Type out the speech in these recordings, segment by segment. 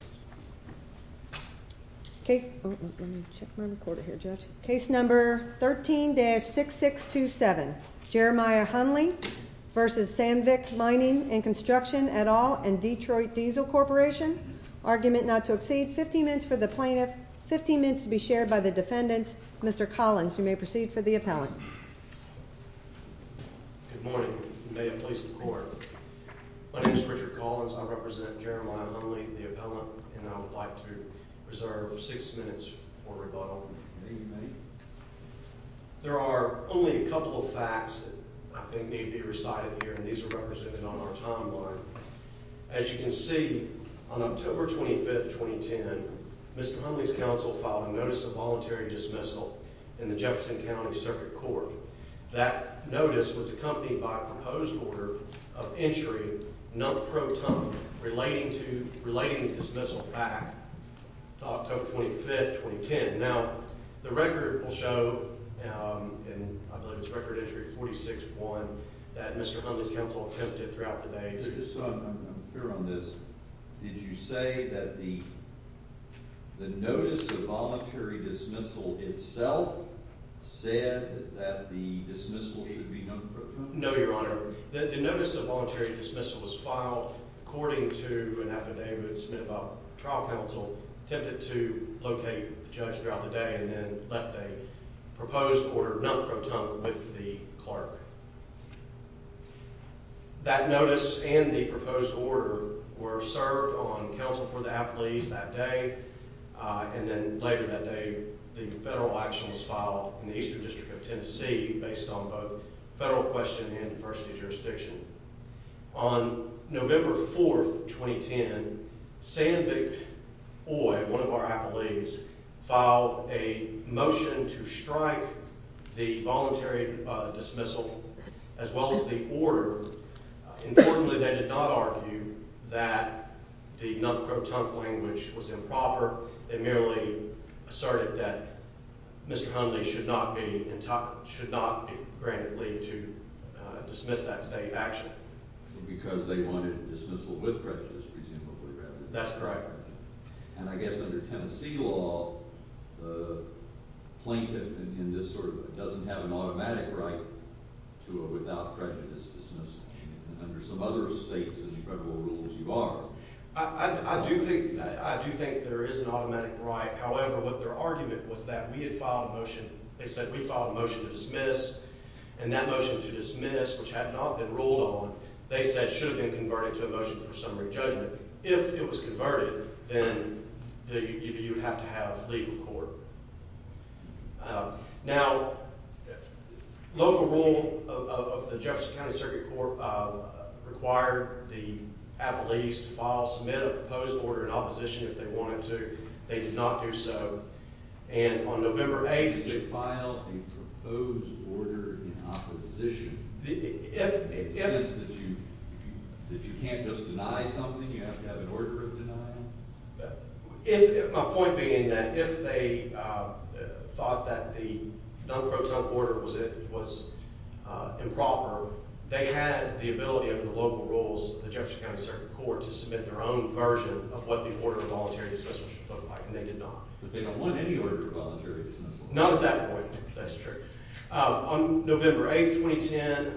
v. Sandvik Mining & Construction, et al., and Detroit Diesel Corporation Argument not to accede. 15 minutes for the plaintiff. 15 minutes to be shared by the defendants. Mr. Collins, you may proceed for the appellant. Good morning, and may it please the Court. My name is Richard Collins. I represent Jeremiah Hunley, the appellant for Sandvik Mining & Construction, et al., and I would like to reserve six minutes for rebuttal. There are only a couple of facts that I think need to be recited here, and these are represented on our timeline. As you can see, on October 25, 2010, Mr. Hunley's counsel filed a Notice of Voluntary Dismissal in the Jefferson County Circuit Court. That notice was accompanied by a proposed order of entry not pro ton relating the dismissal back to October 25, 2010. Now, the record will show in, I believe it's Record Entry 46.1, that Mr. Hunley's counsel attempted throughout the day. Did you say that the Notice of Voluntary Dismissal itself said that the dismissal should be done pro ton? No, Your Honor. The Notice of Voluntary Dismissal, according to an affidavit submitted by the Trial Counsel, attempted to locate the judge throughout the day and then left a proposed order not pro ton with the clerk. That notice and the proposed order were served on counsel for the appellees that day, and then later that day, the federal action was filed in the Eastern District of Tennessee based on both federal question and diversity jurisdiction. On November 4, 2010, Sandvik Oye, one of our appellees, filed a motion to strike the Voluntary Dismissal as well as the order. Importantly, they did not argue that the not pro ton language was improper. They merely asserted that Mr. Hunley should not be granted leave to dismiss that state action. Because they wanted dismissal with prejudice, presumably. That's correct. And I guess under Tennessee law, the plaintiff in this sort of doesn't have an automatic right to a without prejudice dismissal. Under some other states and federal rules, you are. I do think there is an automatic right. However, what their argument was that we had filed a motion, they said we filed a motion to dismiss. And that motion to dismiss, which had not been ruled on, they said should have been converted to a motion for summary judgment. If it was converted, then you would have to have leave of court. Now, local rule of the Jefferson County Circuit Court required the appellees to file, submit a proposed order in opposition if they wanted to. They did not do so. And on November 8th, they filed a proposed order in opposition. In the sense that you can't just deny something, you have to have an order of denial? My point being that if they thought that the non pro ton order was improper, they had the ability under the local rules of the Jefferson County Circuit Court to submit their own version of what the order of voluntary dismissal should look like. And they did not. But they don't want any order of voluntary dismissal. None of that point. That's true. On November 8th, 2010,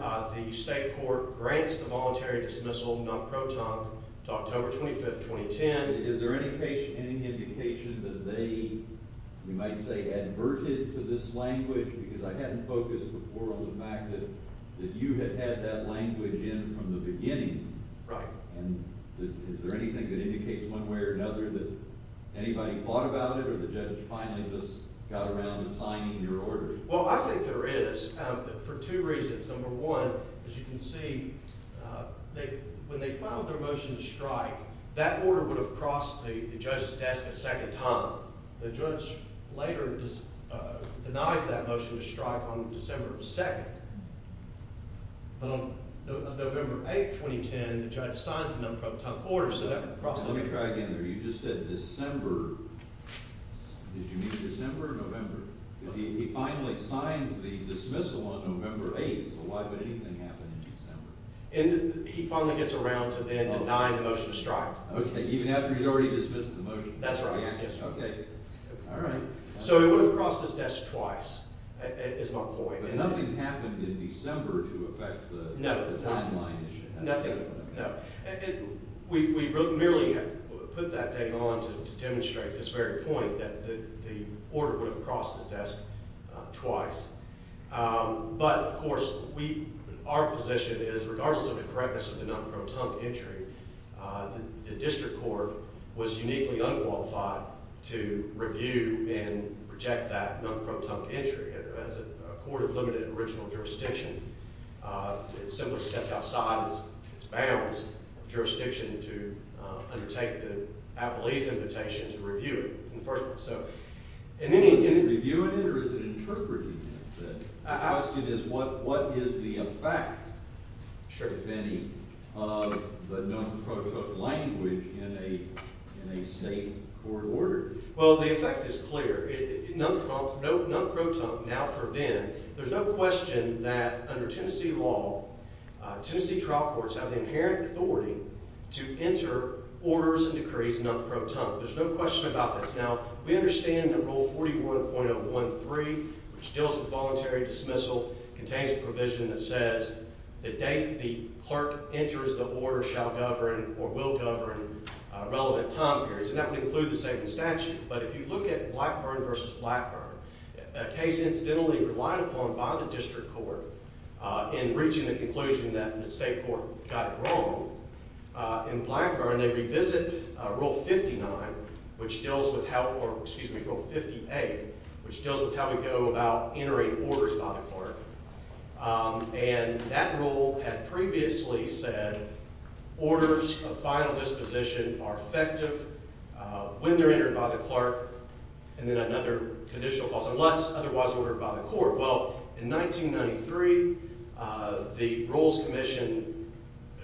the state court grants the voluntary dismissal non pro ton to October 25th, 2010. Is there any indication that they, you might say, adverted to this language? Because I hadn't focused before on the fact that you had had that language in from the beginning. Right. And is there anything that indicates one way or another that anybody thought about it or the judge finally just got around to signing your order? Well, I think there is for two reasons. Number one, as you can see, when they filed their motion to strike, that order would have crossed the judge's desk a second time. The judge later denies that motion to strike on December 2nd. But on November 8th, 2010, the judge signs the non pro ton order Let me try again here. You just said December. Did you mean December or November? He finally signs the dismissal on November 8th. So why would anything happen in December? He finally gets around to then denying the motion to strike. Even after he's already dismissed the motion? That's right. So it would have crossed his desk twice, is my point. But nothing happened in December to affect the timeline issue. We merely put that date on to demonstrate this very point that the order would have crossed his desk twice. But, of course, our position is regardless of the correctness of the non pro ton entry, the district court was uniquely unqualified to review and reject that non pro ton entry. As a court of limited original jurisdiction, it simply stepped outside its bounds of jurisdiction to undertake the Appellee's invitation to review it, in the first place. So, in any view of it, or is it interpreted? I asked you this. What is the effect of the non pro ton language in a state court order? Under Tennessee law, Tennessee trial courts have the inherent authority to enter orders and decrees non pro ton. There's no question about this. Now, we understand that Rule 41.013 which deals with voluntary dismissal contains a provision that says the date the clerk enters the order shall govern, or will govern, relevant time periods. And that would include the same in statute. But if you look at Blackburn v. Blackburn, a case incidentally relied upon by the district court in reaching the conclusion that the state court got it wrong in Blackburn, they revisit Rule 59, which deals with how, or excuse me, Rule 58 which deals with how we go about entering orders by the clerk. And that rule had previously said orders of final disposition are effective when they're entered by the clerk, and then another conditional clause, unless otherwise ordered by the court. Well, in 1993 the Rules Commission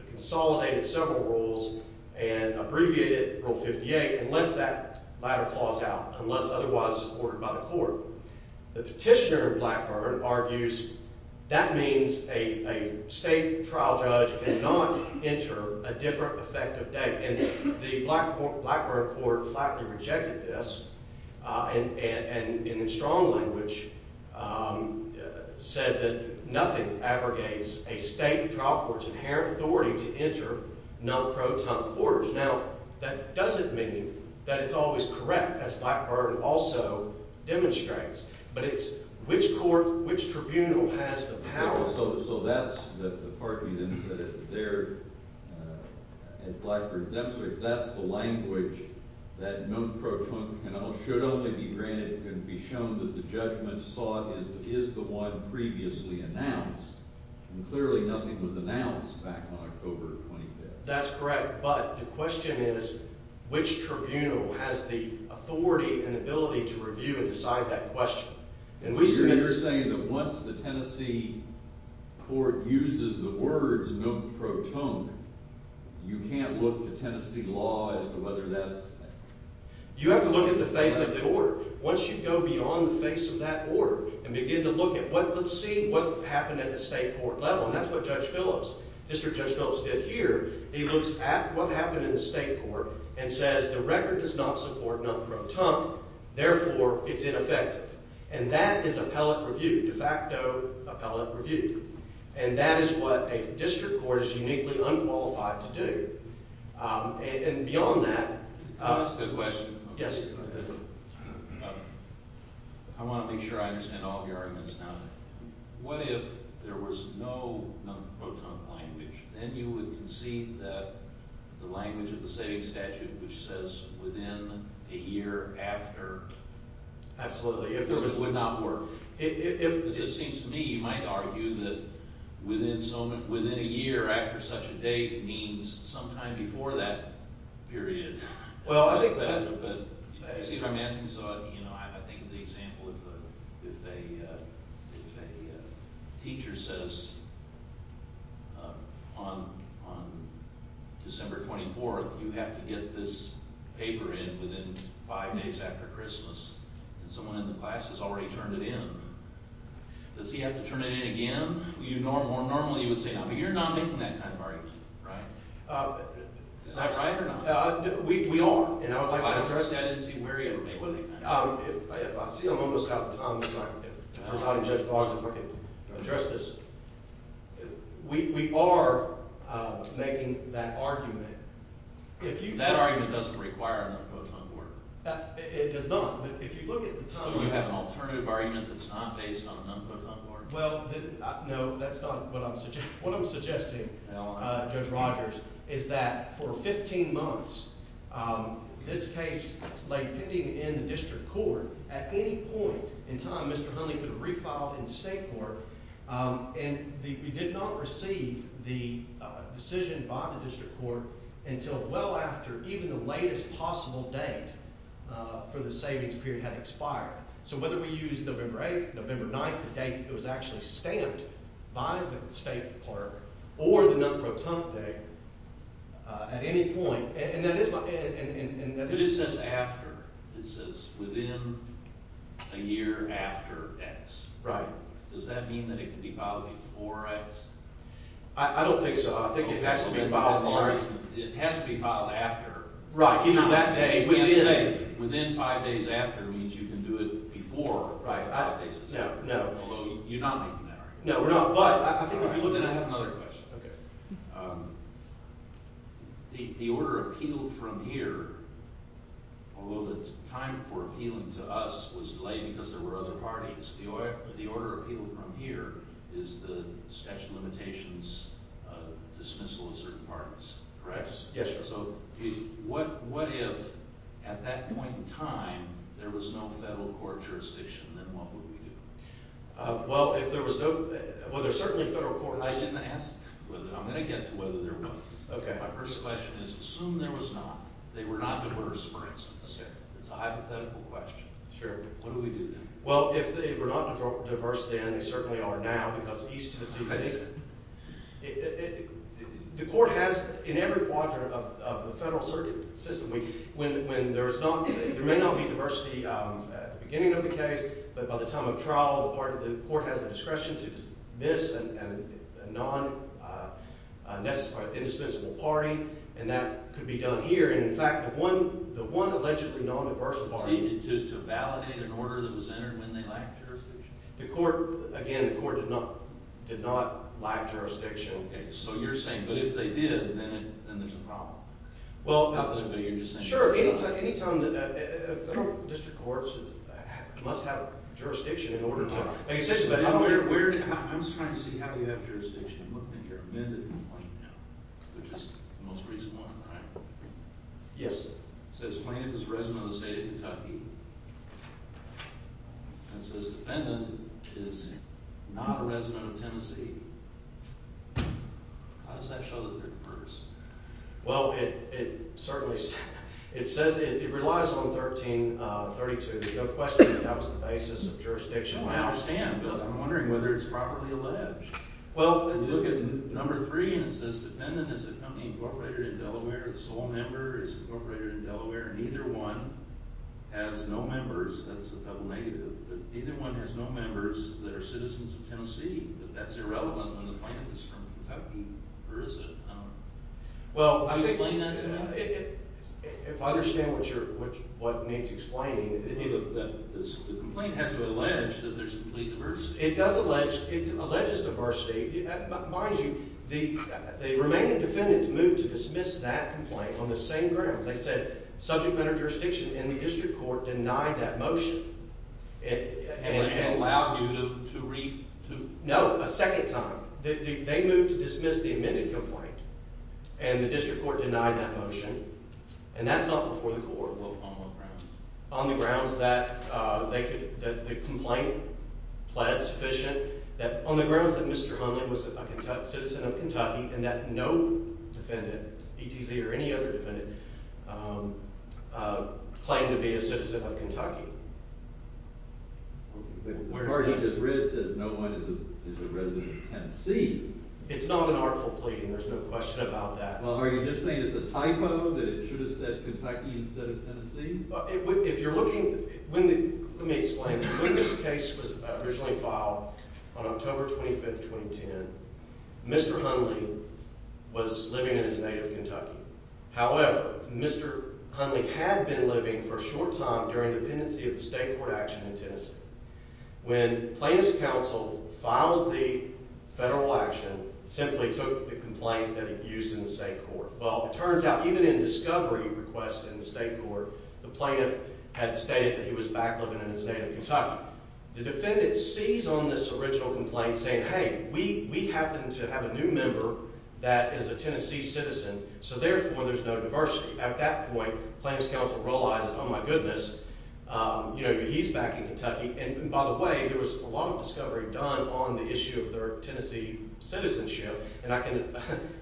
consolidated several rules and abbreviated Rule 58 and left that latter clause out, unless otherwise ordered by the court. The petitioner in Blackburn argues that means a state trial judge cannot enter a different effective date. And the Blackburn court flatly rejected this and in strong language said that nothing abrogates a state trial court's inherent authority to enter non-protunct orders. Now, that doesn't mean that it's always correct, as Blackburn also demonstrates, but it's which court, which tribunal has the power. So that's the part you didn't say there as Blackburn demonstrated, that's the language that non-protunct should only be granted and be shown that the judgment is the one previously announced and clearly nothing was announced back on October 25th. That's correct but the question is, which tribunal has the authority and ability to review and decide that question? You're saying that once the Tennessee court uses the Tennessee law as to whether that's... You have to look at the face of the court. Once you go beyond the face of that court and begin to look at what let's see what happened at the state court level, and that's what Judge Phillips, District Judge Phillips did here, he looks at what happened in the state court and says the record does not support non-protunct, therefore it's ineffective. And that is appellate review, de facto appellate review. And that is what a district court is uniquely unqualified to do. And beyond that... That's a good question. Yes. I want to make sure I understand all of your arguments now. What if there was no non-protunct language? Then you would concede that the language of the state statute which says within a year after... Absolutely. It would not work. It seems to me you might argue that within a year after such a date means sometime before that period. Well I think... I think the example of if a teacher says on December 24th you have to get this paper in within five days after Christmas and someone in the class has already turned it in. Does he have to turn it in again? Normally you would say no. But you're not making that kind of argument. Is that right or not? We are. I don't understand. I didn't see where you were making that argument. I see I'm almost out of time. We are making that argument. That argument doesn't require a non-protunct order. It does not. So you have an alternative argument that's not based on a non-protunct order? What I'm suggesting Judge Rogers is that for 15 months this case lay pending in the district court. At any point in time Mr. Hunley could have refiled in state court and we did not receive the decision by the district court until well after even the latest possible date for the savings period had expired. So whether we use November 8th, November 9th, the date it was actually stamped by the state clerk or the non-protunct day at any point. But it says after. It says within a year after X. Does that mean that it can be filed before X? I don't think so. I think it has to be filed after. Within five days after means you can do it before five days after. Then I have another question. The order appealed from here although the time for appealing to us was delayed because there were other parties, the order appealed from here is the statute of limitations dismissal of certain parties. So what if at that point in time there was no federal court jurisdiction then what would we do? I'm going to get to whether there was. My first question is assume there was not. They were not diverse for instance. It's a hypothetical question. What do we do then? Well if they were not diverse then they certainly are now. The court has in every quadrant of the federal circuit system there may not be diversity at the beginning of the case but by the time of trial the court has the discretion to dismiss a non-indispensable party and that could be done here. In fact the one allegedly non-diverse party. To validate an order that was entered when they lacked jurisdiction? Again the court did not lack jurisdiction. So you're saying but if they did then there's a problem. Sure, any time the federal district courts must have jurisdiction in order to I'm just trying to see how you have jurisdiction. I'm looking at your amended complaint now which is the most recent one right? Yes sir. It says plaintiff is a resident of the state of Kentucky and it says defendant is not a resident of Tennessee. How does that show that they're diverse? Well it certainly it says it relies on 1332. There's no question that that was the basis of jurisdiction. I understand but I'm wondering whether it's properly alleged. Well you look at number three and it says defendant is a company incorporated in Delaware. The sole member is incorporated in Delaware and either one has no members. That's a double negative. Either one has no members that are citizens of Tennessee. That's irrelevant when the plaintiff is from Kentucky or is it? Well if I understand what you're what Nate's explaining. The complaint has to allege that there's complete diversity. It does allege. It alleges diversity. Mind you the remaining defendants moved to dismiss that complaint on the same grounds. They said subject matter of jurisdiction and the district court denied that motion. And they allowed you to No a second time. They moved to dismiss the amended complaint and the district court denied that motion and that's not before the court. On what grounds? On the grounds that the complaint pled sufficient. On the grounds that Mr. Hunley was a citizen of Kentucky and that no defendant, ETZ or any other defendant claimed to be a citizen of Kentucky. But the part he just read says no one is a resident of Tennessee. It's not an artful plea and there's no question about that. Well are you just saying it's a typo that it should have said Kentucky instead of Tennessee? If you're looking. Let me explain. When this case was originally filed on October 25, 2010 Mr. Hunley was living in his native Kentucky. However Mr. Hunley had been living for a short time during the pendency of the state court action in Tennessee. When plaintiff's counsel filed the federal action simply took the complaint that it used in the state court. Well it turns out even in discovery requests in the state court the plaintiff had stated that he was back living in his native Kentucky. The defendant sees on this original complaint saying hey we happen to have a new member that is a Tennessee citizen so therefore there's no diversity. At that point plaintiff's counsel realizes oh my goodness he's back in Kentucky and by the way there was a lot of discovery done on the issue of their Tennessee citizenship and I can,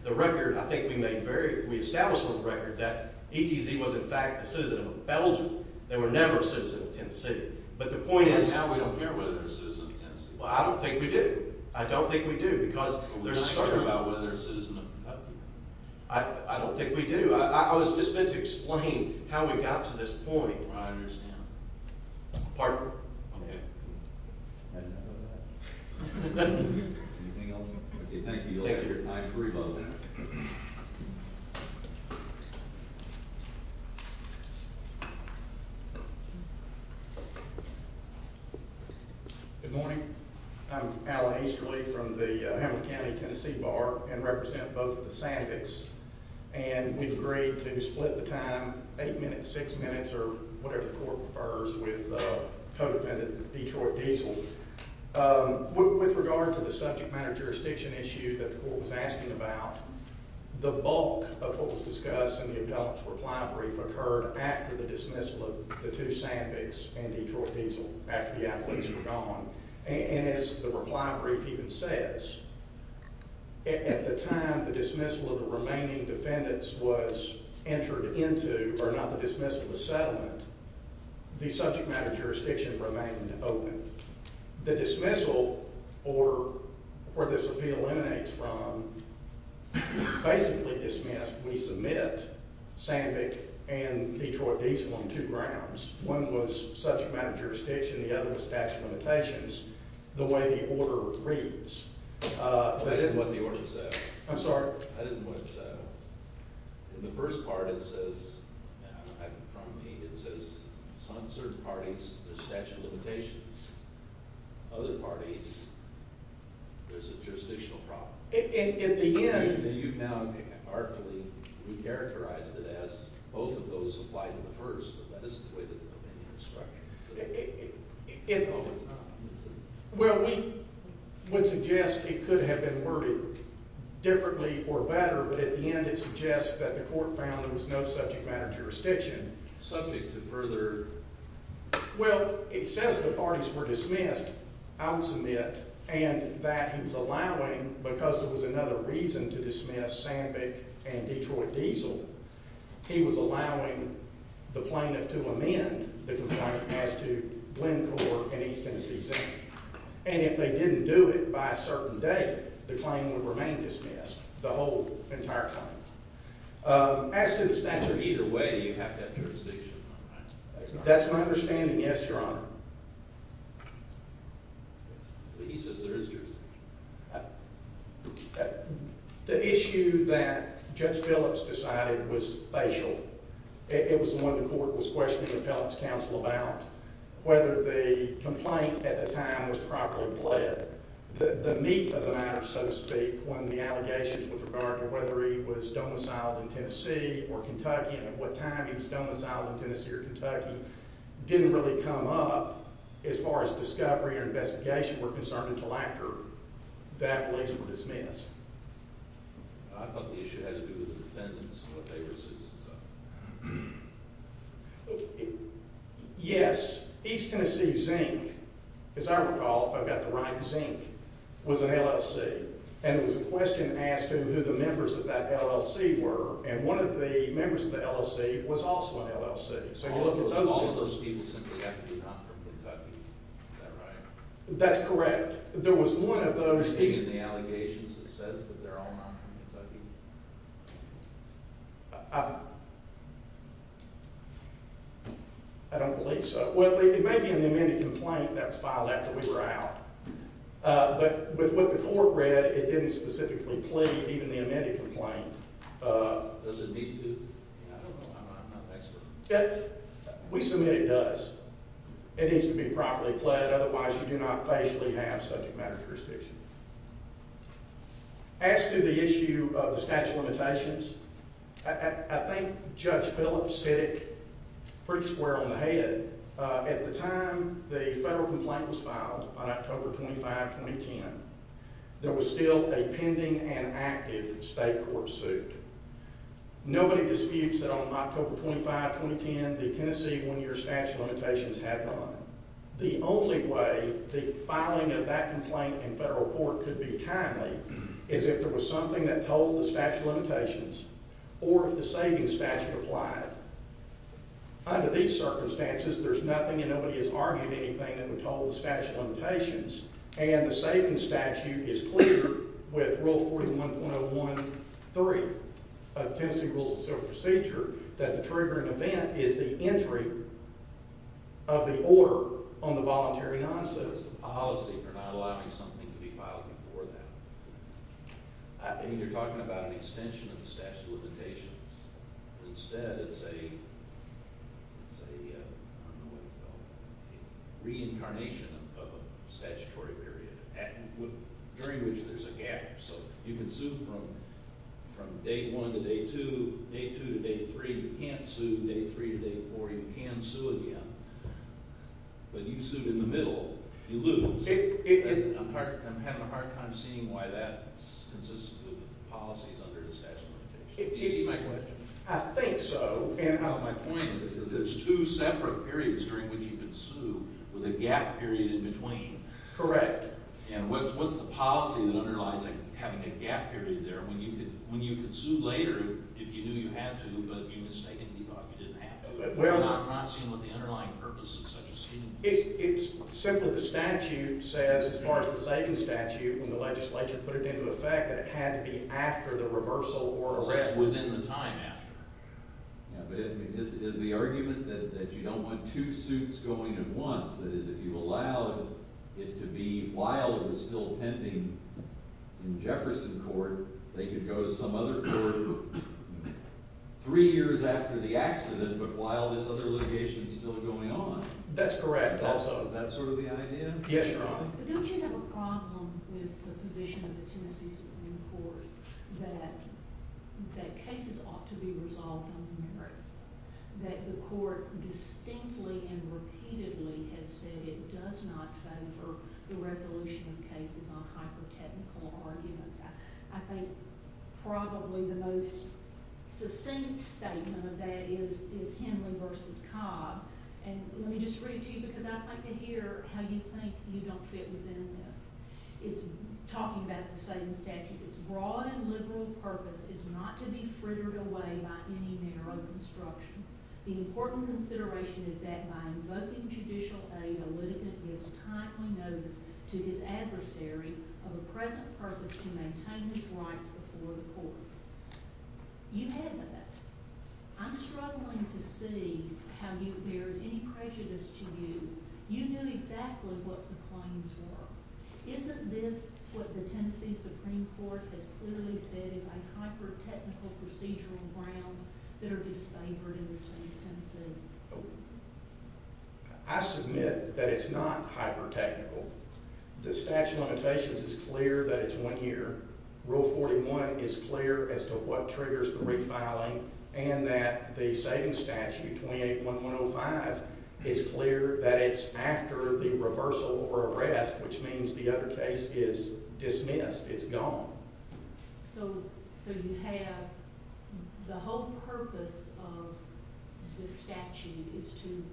the record I think we made very, we established on the record that ETZ was in fact a citizen of Belgium. They were never a citizen of Tennessee. But the point is I don't think we do. I don't think we do because I don't think we do. I was just meant to explain how we got to this point. Anything else? Thank you. Good morning. I'm Alan Easterly from the Hamilton County Tennessee Bar and represent both of the Sandvicks and we've agreed to split the time 8 minutes, 6 minutes or whatever the court prefers with the co-defendant Detroit Diesel. With regard to the subject matter jurisdiction issue that the court was asking about, the bulk of what was discussed in the appellant's reply brief occurred after the dismissal of the two Sandvicks and Detroit Diesel after the appellants were gone and as the reply brief even says, at the time the dismissal of the remaining defendants was entered into or not the dismissal, the settlement, the subject matter jurisdiction remained open. The dismissal or where this appeal emanates from basically dismissed, we submit Sandvick and Detroit Diesel on two grounds. One was subject matter jurisdiction, the other was statute of limitations, the way the order reads. I didn't know what the order says. I'm sorry? I didn't know what it says. In the first part it says, from me, it says some certain parties, there's statute of limitations. Other parties, there's a jurisdictional problem. At the end, you've now artfully re-characterized it as both of those apply to the first, but that isn't the way the opinion was structured. It was not. Well, we would suggest it could have been worded differently or better but at the end it suggests that the court found there was no subject matter jurisdiction. Subject to further... Well, it says the parties were dismissed, I'll submit, and that he was allowing because there was another reason to dismiss Sandvick and Detroit Diesel, he was allowing the plaintiff to amend the complaint as to Glencore and East Tennessee Center, and if they didn't do it by a certain day, the claim would remain dismissed the whole entire time. As to the statute, either way you have that jurisdiction. That's my understanding, yes, your honor. But he says there is jurisdiction. The issue that Judge Phillips decided was facial. It was one the court was questioning the Phillips counsel about, whether the complaint at the time was properly pled. The meat of the matter, so to speak, when the allegations with regard to whether he was domiciled in Tennessee or Kentucky and at what time he was domiciled in Tennessee or Kentucky didn't really come up as far as discovery or investigation were concerned until after the allegations were dismissed. I thought the issue had to do with the defendants and what they were citizens of. Yes, East Tennessee Zinc, as I recall, if I've got the right Zinc, was an LLC, and it was a question asked of who the members of that LLC were, and one of the members of the LLC was also an LLC. All of those people simply have to be not from Kentucky, is that right? That's correct. There was one of those people. Is it in the allegations that says that they're all not from Kentucky? I don't believe so. Well, it may be in the amended complaint that was filed after we were out, but with what the court read, it didn't specifically plead even the amended complaint. Does it need to? I don't know. I'm not an expert. We submit it does. It needs to be properly pled, otherwise you do not facially have subject matter jurisdiction. As to the issue of the statute of limitations, I think Judge Phillips hit it pretty square on the head. At the time the federal complaint was filed on October 25, 2010, there was still a pending and active state court suit. Nobody disputes that on October 25, 2010, the Tennessee one-year statute of limitations had none. The only way the filing of that complaint in federal court could be timely is if there was something that told the statute of limitations or if the savings statute applied. Under these circumstances, there's nothing and nobody has argued anything that would tell the statute of limitations, and the savings statute is clear with Rule 41.01.3 of Tennessee Rules of Civil Procedure that the triggering event is the entry of the order on the voluntary non-citizen policy for not allowing something to be filed before that. You're talking about an extension of the statute of limitations. Instead, it's a reincarnation of a statutory period during which there's a gap. You can sue from day one to day two, day two to day three. You can't sue day three to day four. You can sue again. But you sued in the middle, you lose. I'm having a hard time seeing why that's consistent with the policies under the statute of limitations. Do you see my question? I think so. My point is that there's two separate periods during which you can sue with a gap period in between. Correct. What's the policy that underlies having a gap period there? When you could sue later if you knew you had to, but you mistakenly thought you didn't have to. I'm not seeing what the underlying purpose of such a scheme is. It's simply the statute says, as far as the savings statute, when the legislature put it into effect, that it had to be after the reversal or arrest. Arrest within the time after. Is the argument that you don't want two suits going at once? That is, if you while it was still pending in Jefferson Court, they could go to some other court three years after the accident, but while this other litigation is still going on? That's correct. That's sort of the idea? Yes, Your Honor. But don't you have a problem with the position of the Tennessee Supreme Court that cases ought to be resolved on the merits? That the court distinctly and repeatedly has said it does not favor the resolution of cases on hyper-technical arguments. I think probably the most succinct statement of that is Henley v. Cobb. Let me just read it to you because I'd like to hear how you think you don't fit within this. It's talking about the savings statute. Its broad and liberal purpose is not to be frittered away by any narrow construction. The important consideration is that by invoking judicial aid, a litigant gives timely notice to his adversary of a present purpose to maintain his rights before the court. You had that. I'm struggling to see how there is any prejudice to you. You knew exactly what the claims were. Isn't this what the Tennessee Supreme Court has clearly said is on hyper-technical procedural grounds that are disfavored in the state of Tennessee? I submit that it's not hyper-technical. The statute of limitations is clear that it's one year. Rule 41 is clear as to what triggers the refiling and that the savings statute, 28-1105, is clear that it's after the reversal or arrest which means the other case is dismissed. It's gone. So you have the whole purpose of this statute is to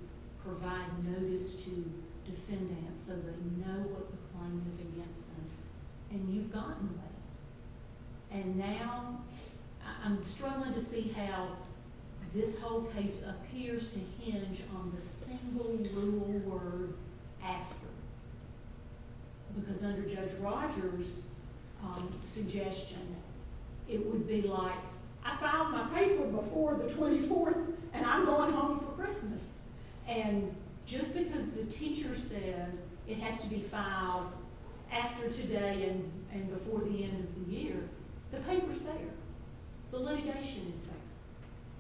provide notice to defendants so they know what the claim is against them. And you've gotten that. And now I'm struggling to see how this whole case appears to hinge on the single rural word after. Because under Judge Rogers suggestion, it would be like I filed my paper before the 24th and I'm going home for Christmas. And just because the teacher says it has to be filed after today and before the end of the year, the paper's there. The litigation is there.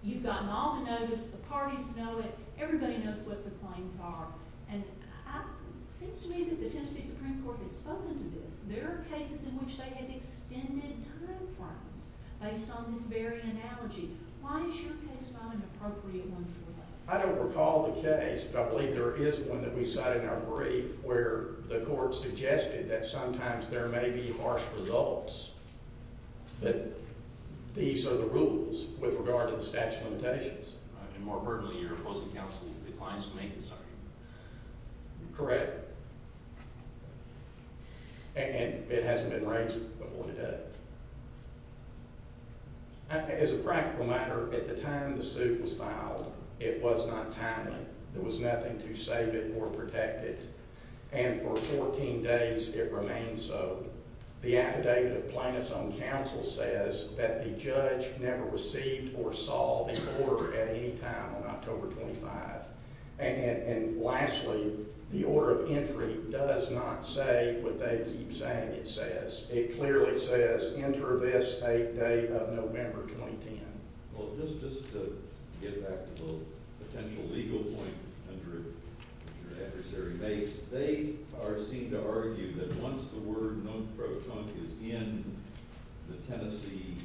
You've gotten all the notice. The parties know it. Everybody knows what the claims are. And it seems to me that the Tennessee Supreme Court has spoken to this. There are cases in which they have extended time frames based on this very analogy. Why is your case not an appropriate one for that? I don't recall the case, but I believe there is one that we cite in our brief where the court suggested that sometimes there may be harsh results. These are the rules with regard to the statute of limitations. And more importantly, your opposing counsel declines to make this argument. Correct. And it hasn't been raised before today. As a practical matter, at the time the suit was filed, it was not timely. There was nothing to save it or protect it. And for 14 days, it remained so. The affidavit of plaintiff's own counsel says that the judge never received or saw the order at any time on October 25. And lastly, the order of entry does not say what they keep saying it says. It clearly says enter this 8th day of November 2010. Well, just to get back to the potential legal point under your adversary base, they seem to argue that once the word non-pro trunc is in the Tennessee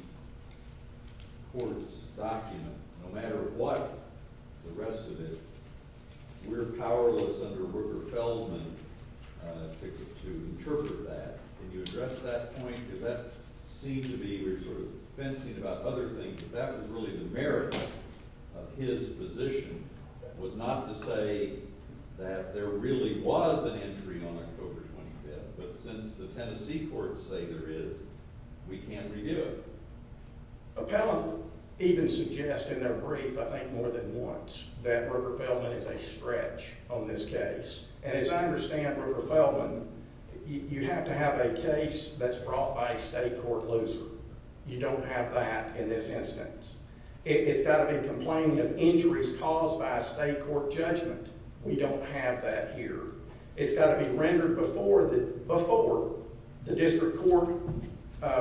court's document, no matter what the rest of it, we're powerless under River Feldman to interpret that. Can you address that point? Because that seems to be, we're sort of fencing about other things, but that was really the merits of his position was not to say that there really was an entry on October 25th. But since the Tennessee courts say there is, we can't redo it. Appellant even suggests in their brief, I think more than once, that River Feldman is a stretch on this case. And as I understand River Feldman, you have to have a case that's brought by a state court loser. You don't have that in this instance. It's got to be complaining of injuries caused by a state court judgment. We don't have that here. It's got to be rendered before the district court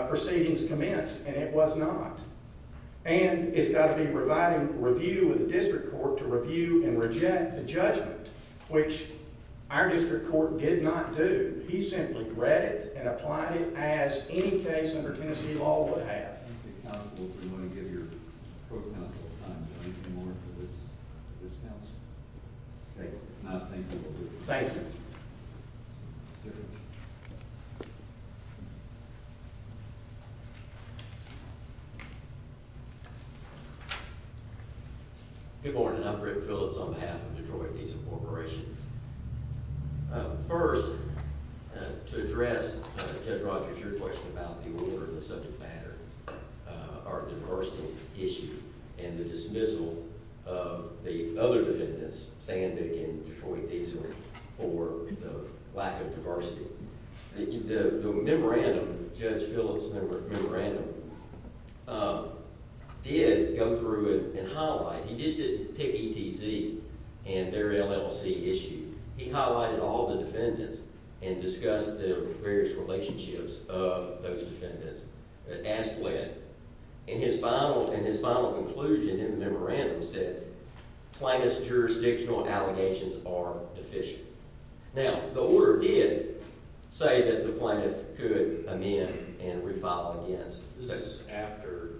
proceedings commenced and it was not. And it's got to be providing review of the district court to review and reject the judgment, which our district court did not do. He simply read it and applied it as any case under Tennessee law would have. Do you want to give your co-counsel time to do anything more for this counsel? If not, thank you. Thank you. Good morning. I'm Rick Phillips on behalf of Detroit Diesel Corporation. First, to address Judge Rogers' question about the order and the subject matter, our diversity issue and the dismissal of the other defendants, Sandick and Detroit Diesel, for the lack of diversity. The memorandum, Judge Phillips' memorandum, did go through it and highlight. He just didn't pick ETZ and their LLC issue. He highlighted all the defendants and discussed the various relationships of those defendants as pled. And his final conclusion in the memorandum said plaintiff's jurisdictional allegations are deficient. Now, the order did say that the plaintiff could amend and refile against. That's after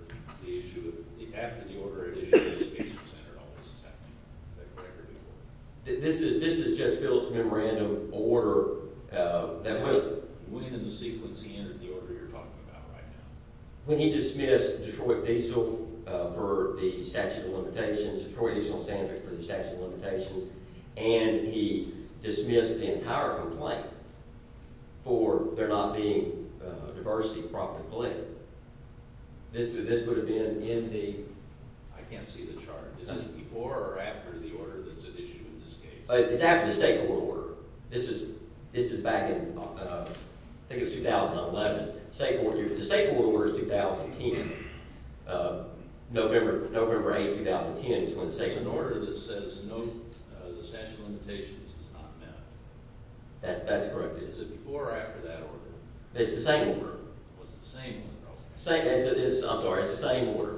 the issue, after the order had issued. This is Judge Phillips' memorandum order. When in the sequence he entered the order you're talking about right now? When he dismissed Detroit Diesel for the statute of limitations, Detroit Diesel and Sandick for the statute of limitations, and he dismissed the entire complaint for there not being a diversity property claim, this would have been in the... I can't see the chart. Is it before or after the order that's at issue in this case? It's after the state court order. This is back in, I think it was 2011. The state court order is 2010. November 8, 2010 is when the state court... It's an order that says the statute of limitations is not met. That's correct. Is it before or after that order? It's the same order. I'm sorry, it's the same order.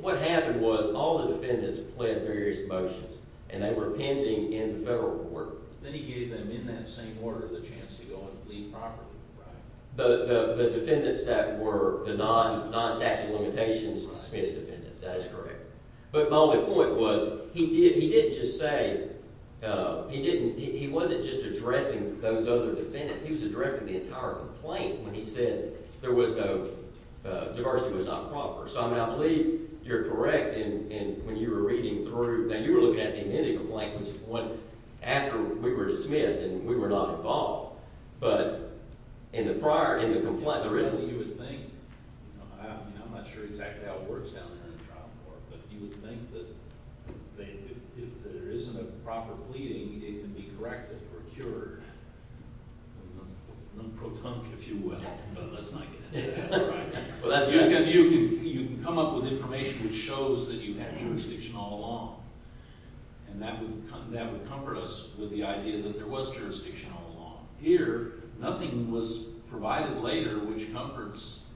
What happened was all the defendants pled various motions, and they were pending in the federal court. Then he gave them, in that same order, the chance to go and leave properly. The defendants that were the non-statute of limitations dismissed defendants, that is correct. But my only point was, he didn't just say... He wasn't just addressing those other defendants. He was addressing the entire complaint when he said diversity was not proper. I believe you're correct when you were reading through... Now you were looking at the amenity complaint, which was after we were dismissed and we were not involved. But in the prior... I'm not sure exactly how it works down there in the trial court, but you would think that if there isn't a proper pleading, it can be corrected or cured. Non-pro-tunk, if you will. But let's not get into that. You can come up with information which shows that you had jurisdiction all along. And that would comfort us with the idea that there was jurisdiction all along. Here, nothing was provided later which comforts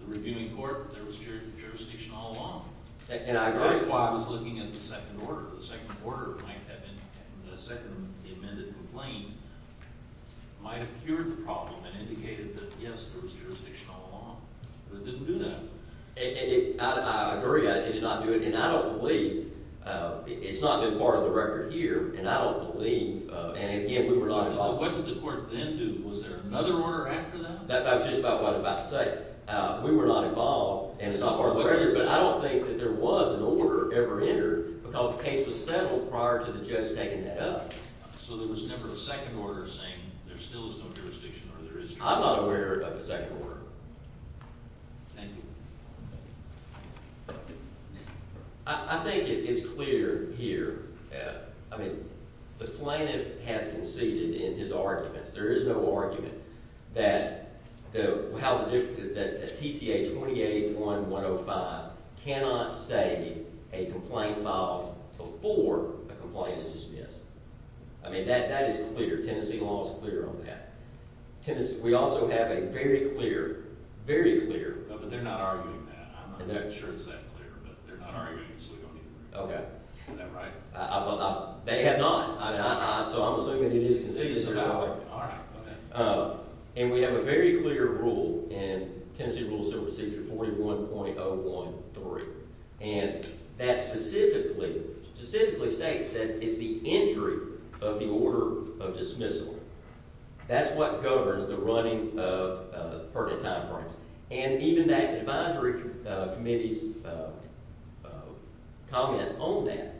the reviewing court that there was jurisdiction all along. That's why I was looking at the second order. The second order might have been... The second amended complaint might have cured the problem and indicated that yes, there was jurisdiction all along. But it didn't do that. I agree. It did not do it. And I don't believe... It's not a good part of the record here. And I don't believe... And again, we were not involved. What did the court then do? Was there another order after that? That's just about what I was about to say. We were not involved. And it's not part of the record. But I don't think that there was an order ever entered because the case was settled prior to the judge taking that up. So there was never a second order saying there still is no jurisdiction or there is jurisdiction? I'm not aware of a second order. Thank you. I think it is clear here. I mean, the plaintiff has conceded in his arguments. There is no argument that the TCA 28-1-105 cannot say a complaint filed before a complaint is dismissed. I mean, that is clear. Tennessee law is clear on that. We also have a very clear very clear... No, but they're not arguing that. I'm not sure it's that clear. But they're not arguing it, so we don't need to bring it up. Is that right? They have not. So I'm assuming it is conceded. And we have a very clear rule in Tennessee Rules of Procedure 41.013 and that specifically states that it's the entry of the order of dismissal. That's what governs the running of pertinent time frames. And even that advisory committee's comment on that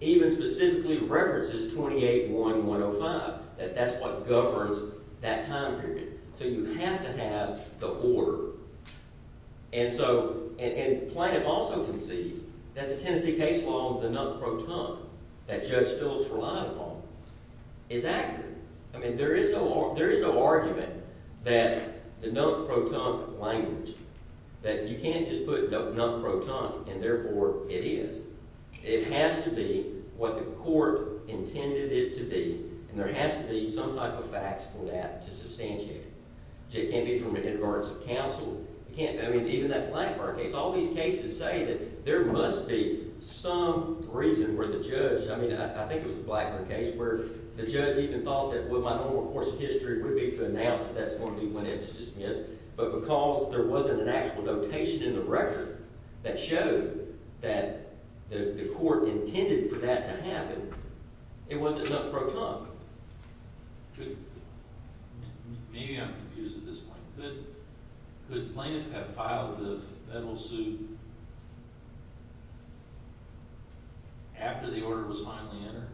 even specifically references 28-1-105, that that's what governs that time period. So you have to have the order. And so, and plaintiff also concedes that the Tennessee case law, the non-proton, that Judge Phillips relied upon is accurate. I mean, there is no argument that the non-proton language, that you can't just put non-proton and therefore it is. It has to be what the court intended it to be. And there has to be some type of facts for that to substantiate it. It can't be from an advance of counsel. It can't, I mean, even that Blackburn case, all these cases say that there must be some reason where the judge, I mean, I think it was the Blackburn case where the judge even thought that, well, my whole course of history would be to announce that that's going to be when it is dismissed. But because there wasn't an actual notation in the record that showed that the court intended for that to happen, it wasn't non-proton. Maybe I'm confused at this point. Could plaintiffs have filed the federal suit after the order was finally entered?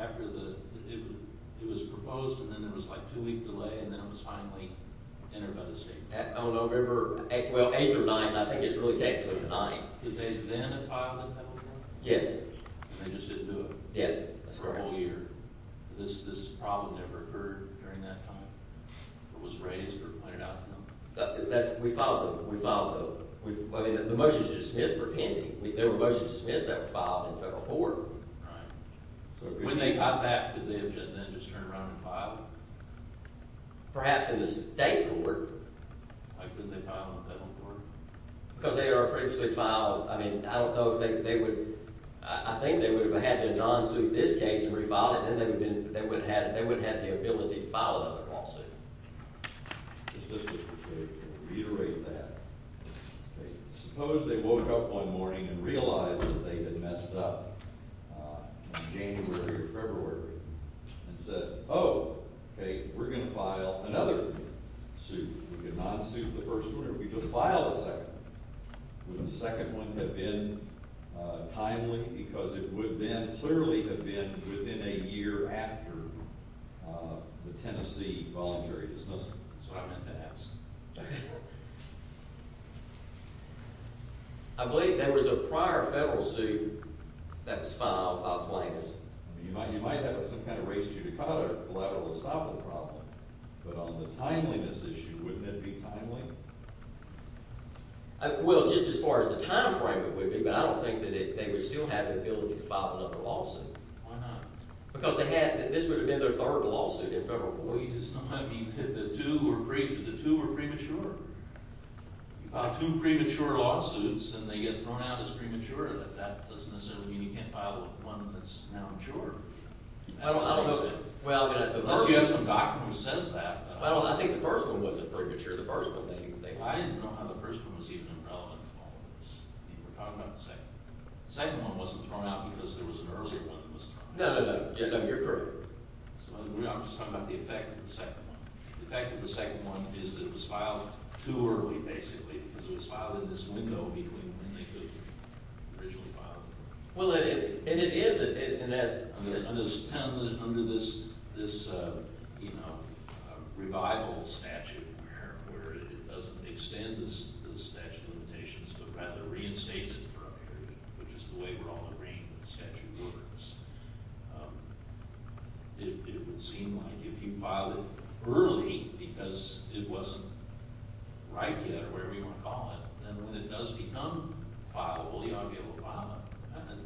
After it was proposed and then there was like two week delay and then it was finally entered by the state? November 8th or 9th, I think it's really technically the 9th. Did they then file the federal court? Yes. They just didn't do it? Yes. For a whole year? This problem never occurred during that time? It was raised or pointed out to them? We filed them. We filed them. The motions dismissed were pending. There were motions dismissed that were filed in federal court. When they got back, did they then just turn around and file them? Perhaps in the state court. Why couldn't they file them in federal court? I think they would have had to non-suit this case and refile it and then they would have the ability to file another lawsuit. Reiterate that. Suppose they woke up one morning and realized that they had messed up in January or February and said, oh, okay, we're going to file another suit. We could non-suit the first one or we could file the second one. Would the second one have been timely because it would then clearly have been within a year after the Tennessee voluntary dismissal? That's what I meant to ask. I believe there was a prior federal suit that was filed by plaintiffs. You might have some kind of racial issue to cover. Collateral estoppel problem. But on the timeliness issue, would that be timely? Well, just as far as the time frame, it would be. But I don't think that they would still have the ability to file another lawsuit. Why not? Because they had – this would have been their third lawsuit in federal court. Well, you just don't – I mean, the two were premature. You file two premature lawsuits and they get thrown out as premature. That doesn't necessarily mean you can't file one that's now in essence. Unless you have some doctor who says that. Well, I think the first one wasn't premature. The first one they – I didn't know how the first one was even relevant to all of this. You were talking about the second one. The second one wasn't thrown out because there was an earlier one that was thrown out. No, no, no. You're correct. I'm just talking about the effect of the second one. The effect of the second one is that it was filed too early, basically, because it was filed in this window between when they could have originally filed it. Well, and it is – and as – Under this revival statute where it doesn't extend the statute of limitations but rather reinstates it for a period, which is the way we're all agreeing the statute works, it would seem like if you file it early because it wasn't right yet or whatever you want to call it, then when it does become fileable, you ought to be able to file it.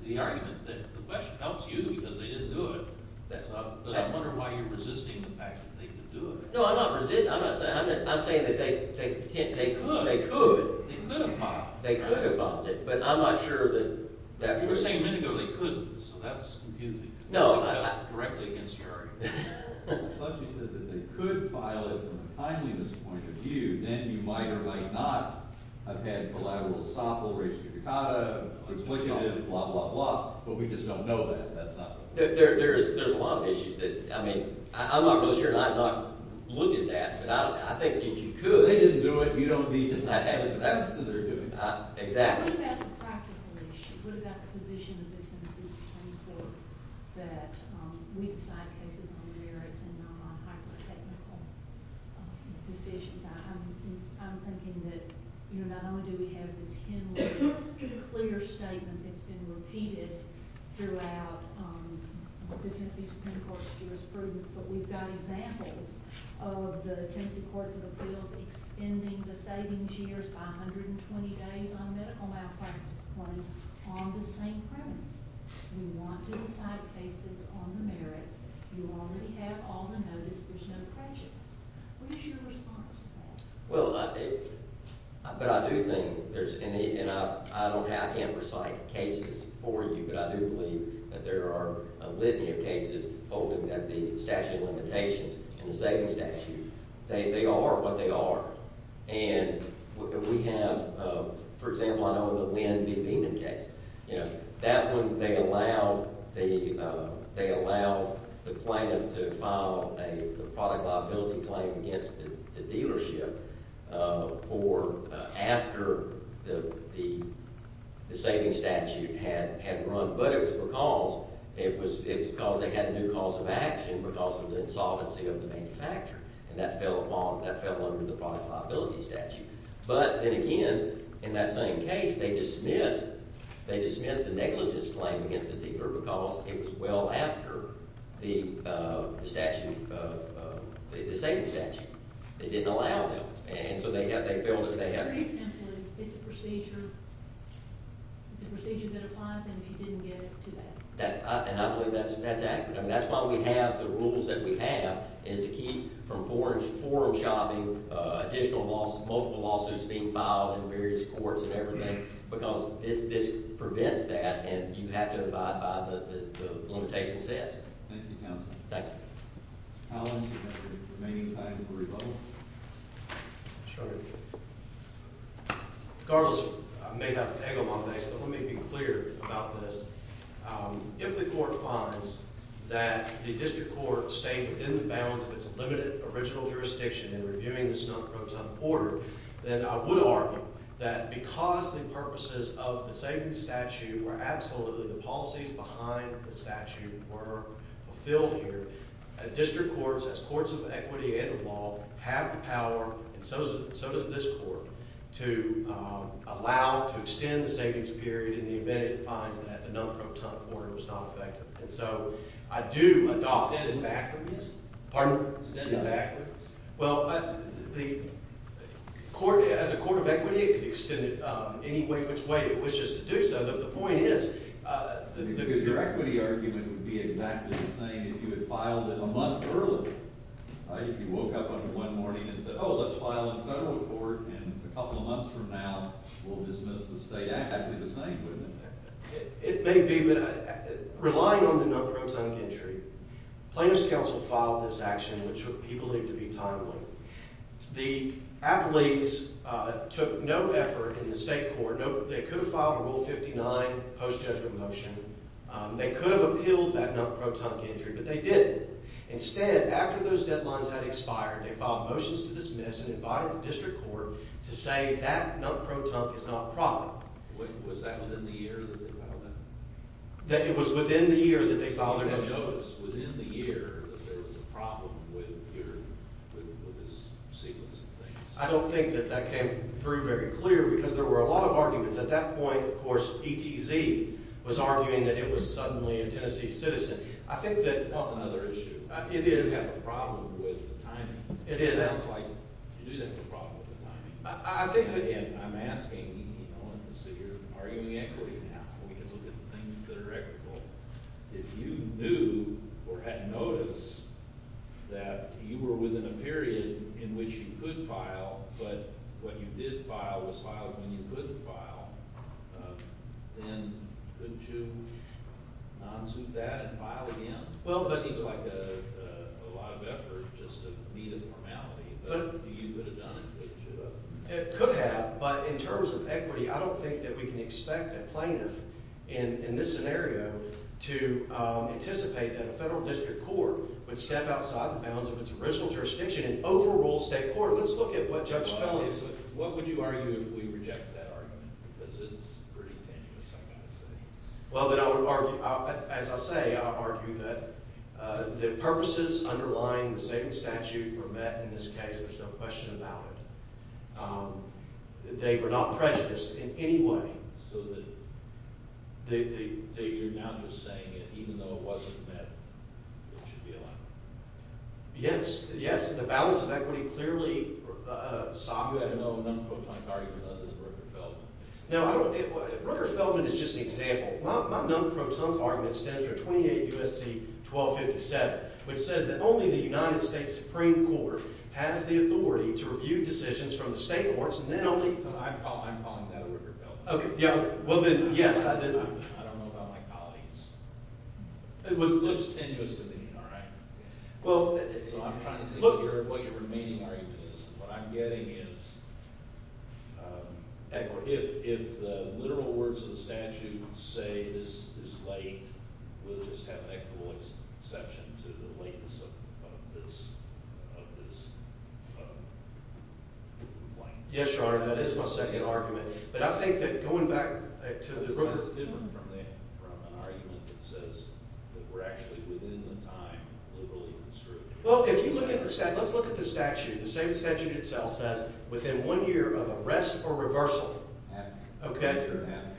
The argument that the question helps you because they didn't do it, but I wonder why you're resisting the fact that they could do it. No, I'm not resisting. I'm not saying – I'm saying that they could. They could. They could have filed it. They could have filed it, but I'm not sure that that would – You were saying a minute ago they couldn't, so that's confusing. No, I – Was I correct against your argument? Well, unless you said that they could file it from a timeliness point of view, then you might or might not have had collateral estoppel, res judicata, explicative, blah, blah, blah, but we just don't know that. That's not – There's a lot of issues that – I mean, I'm not really sure, and I've not looked at that, but I think that you could. They didn't do it. You don't need them. That's what they're doing. Exactly. What about the practical issue? What about the position of businesses trying to think that we decide cases on their merits and not on hypothetical decisions? I'm thinking that not only do we have this clear statement that's been repeated throughout the Tennessee Supreme Court's jurisprudence, but we've got examples of the Tennessee Courts of Appeals extending the savings years by 120 days on medical malpractice on the same premise. We want to decide cases on the merits. You already have all the notice. There's no prejudice. What is your response to that? Well, but I do think there's – and I don't have – I can't recite cases for you, but I do believe that there are a litany of cases holding that the statute of limitations and the savings statute, they are what they are. And we have – for example, I know of the Lynn v. Beeman case. You know, that one, they allow the plaintiff to file a product liability claim against the dealership for – after the savings statute had run. But it was because they had a new cause of action because of the insolvency of the manufacturer. And that fell under the product liability statute. But then again, in that same case, they dismissed the negligence claim against the dealer because it was well after the statute – the savings statute. They didn't allow them. And so they have – they feel that they have – It's a procedure. It's a procedure that applies, and if you didn't get it, too bad. And I believe that's accurate. I mean, that's why we have the rules that we have, is to keep from forum-shopping additional – multiple lawsuits being filed in various courts and everything because this prevents that, and you have to abide by the limitations set. Thank you, counsel. Allen, you have the remaining time for rebuttal. Sure. Carlos, I may have to egg him on this, but let me be clear about this. If the court finds that the district court stayed within the bounds of its limited original jurisdiction in reviewing the Snook-Croton order, then I would argue that because the limitations behind the statute were fulfilled here, district courts, as courts of equity and of law, have the power, and so does this court, to allow – to extend the savings period in the event it finds that the Snook-Croton order was not effective. And so I do adopt – Extended backwards? Pardon? Extended backwards? Well, the court – as a court of equity, it can extend it any way – which way it wishes to do so, but the point is your equity argument would be exactly the same if you had filed it a month earlier. If you woke up one morning and said, oh, let's file a federal report, and a couple of months from now, we'll dismiss the state act, it'd be the same, wouldn't it? It may be, but relying on the Snook-Croton entry, Plaintiff's counsel filed this action, which he believed to be timely. The appellees took no effort in the state court – they could have filed a Rule 59 post-judgment motion, they could have appealed that Snook-Croton entry, but they didn't. Instead, after those deadlines had expired, they filed motions to dismiss and invited the district court to say that Snook-Croton is not probable. Was that within the year that they filed that? It was within the year that they filed their motion. It shows, within the year, that there was a problem with this sequence of things. I don't think that that came through very clear, because there were a lot of arguments. At that point, of course, ETZ was arguing that it was suddenly a Tennessee citizen. That's another issue. You have a problem with the timing. It sounds like you do have a problem with the timing. I think, again, I'm asking, you're arguing equity now. We can look at the things that are equitable. If you knew or had notice that you were within a period in which you could file, but what you did file was filed when you couldn't file, then couldn't you non-suit that and file again? It seems like a lot of effort, just a need of formality, but you could have done it. It could have, but in terms of equity, I don't think that we can expect a plaintiff in this scenario to anticipate that a federal district court would step outside the bounds of its original jurisdiction and overrule state court. Let's look at what Judge Felley said. What would you argue if we rejected that argument? Because it's pretty tenuous, I've got to say. As I say, I would argue that the purposes underlying the same statute were met in this case. There's no question about it. They were not prejudiced in any way. So that you're now just saying that even though it wasn't met, it should be allowed. Yes, the balance of equity clearly saw another non-proton argument other than Rooker-Feldman. Now, Rooker-Feldman is just an example. My non-proton argument stands for 28 U.S.C. 1257, which says that only the United States Supreme Court has the authority to review decisions from the state courts and then only I'm calling that Rooker-Feldman. Well then, yes. I don't know about my colleagues. It was tenuous all right. I'm trying to see what your remaining argument is. What I'm getting is if the literal words of the statute say this is late, we'll just have an equitable exception to the lateness of this Yes, Your Honor, that is my second argument, but I think that going back to the Rooker-Feldman Well, if you look at the statute, let's look at the statute. The same statute itself says within one year of arrest or reversal, okay?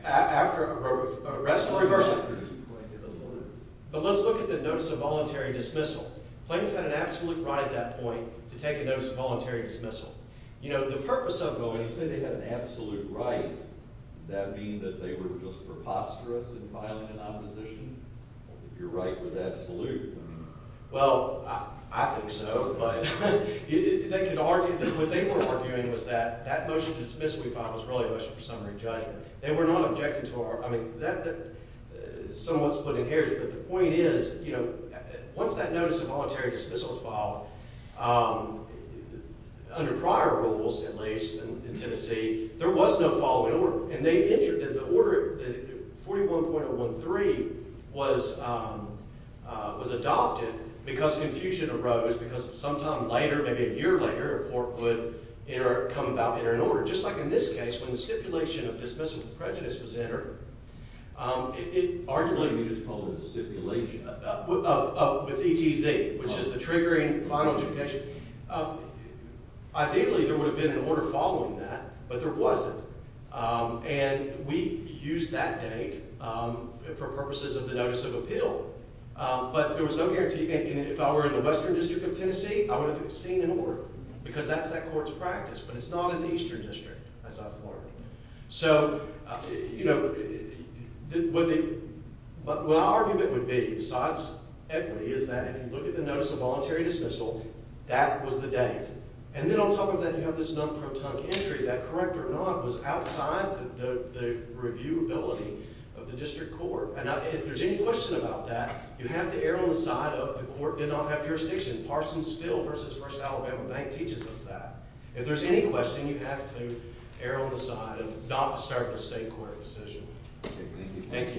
After arrest or reversal. But let's look at the notice of voluntary dismissal. Plaintiffs had an absolute right at that point to take a notice of voluntary dismissal. You know, the purpose of going, you said they had an absolute right that being that they were just preposterous and violent in opposition? Your right was absolute. Well, I think so, but they could argue that what they were arguing was that that motion of dismissal we found was really a motion for summary judgment. They were not objecting to our, I mean somewhat splitting hairs, but the point is, you know, once that notice of voluntary dismissal was filed under prior rules, at least in Tennessee, there was no following order. And they entered, the order 41.013 was adopted because confusion arose because sometime later, maybe a year later, a court would come about, enter an order. Just like in this case, when the stipulation of dismissal prejudice was entered, it arguably you just called it a stipulation. With ETZ, which is the triggering final judgment. Ideally, there would have been an order following that, but there wasn't. And we used that date for purposes of the notice of appeal, but there was no guarantee and if I were in the western district of Tennessee, I would have seen an order because that's that court's practice, but it's not in the eastern district, as I've learned. So, you know, what the argument would be, besides equity, is that if you look at the notice of voluntary dismissal, that was the date. And then on top of that, you have this non-protunct entry that, correct or not, was outside the reviewability of the district court. And if there's any question about that, you have to err on the side of the court did not have jurisdiction. Parsons Bill v. First Alabama Bank teaches us that. If there's any question, you have to err on the side of not starting a state court decision. Thank you.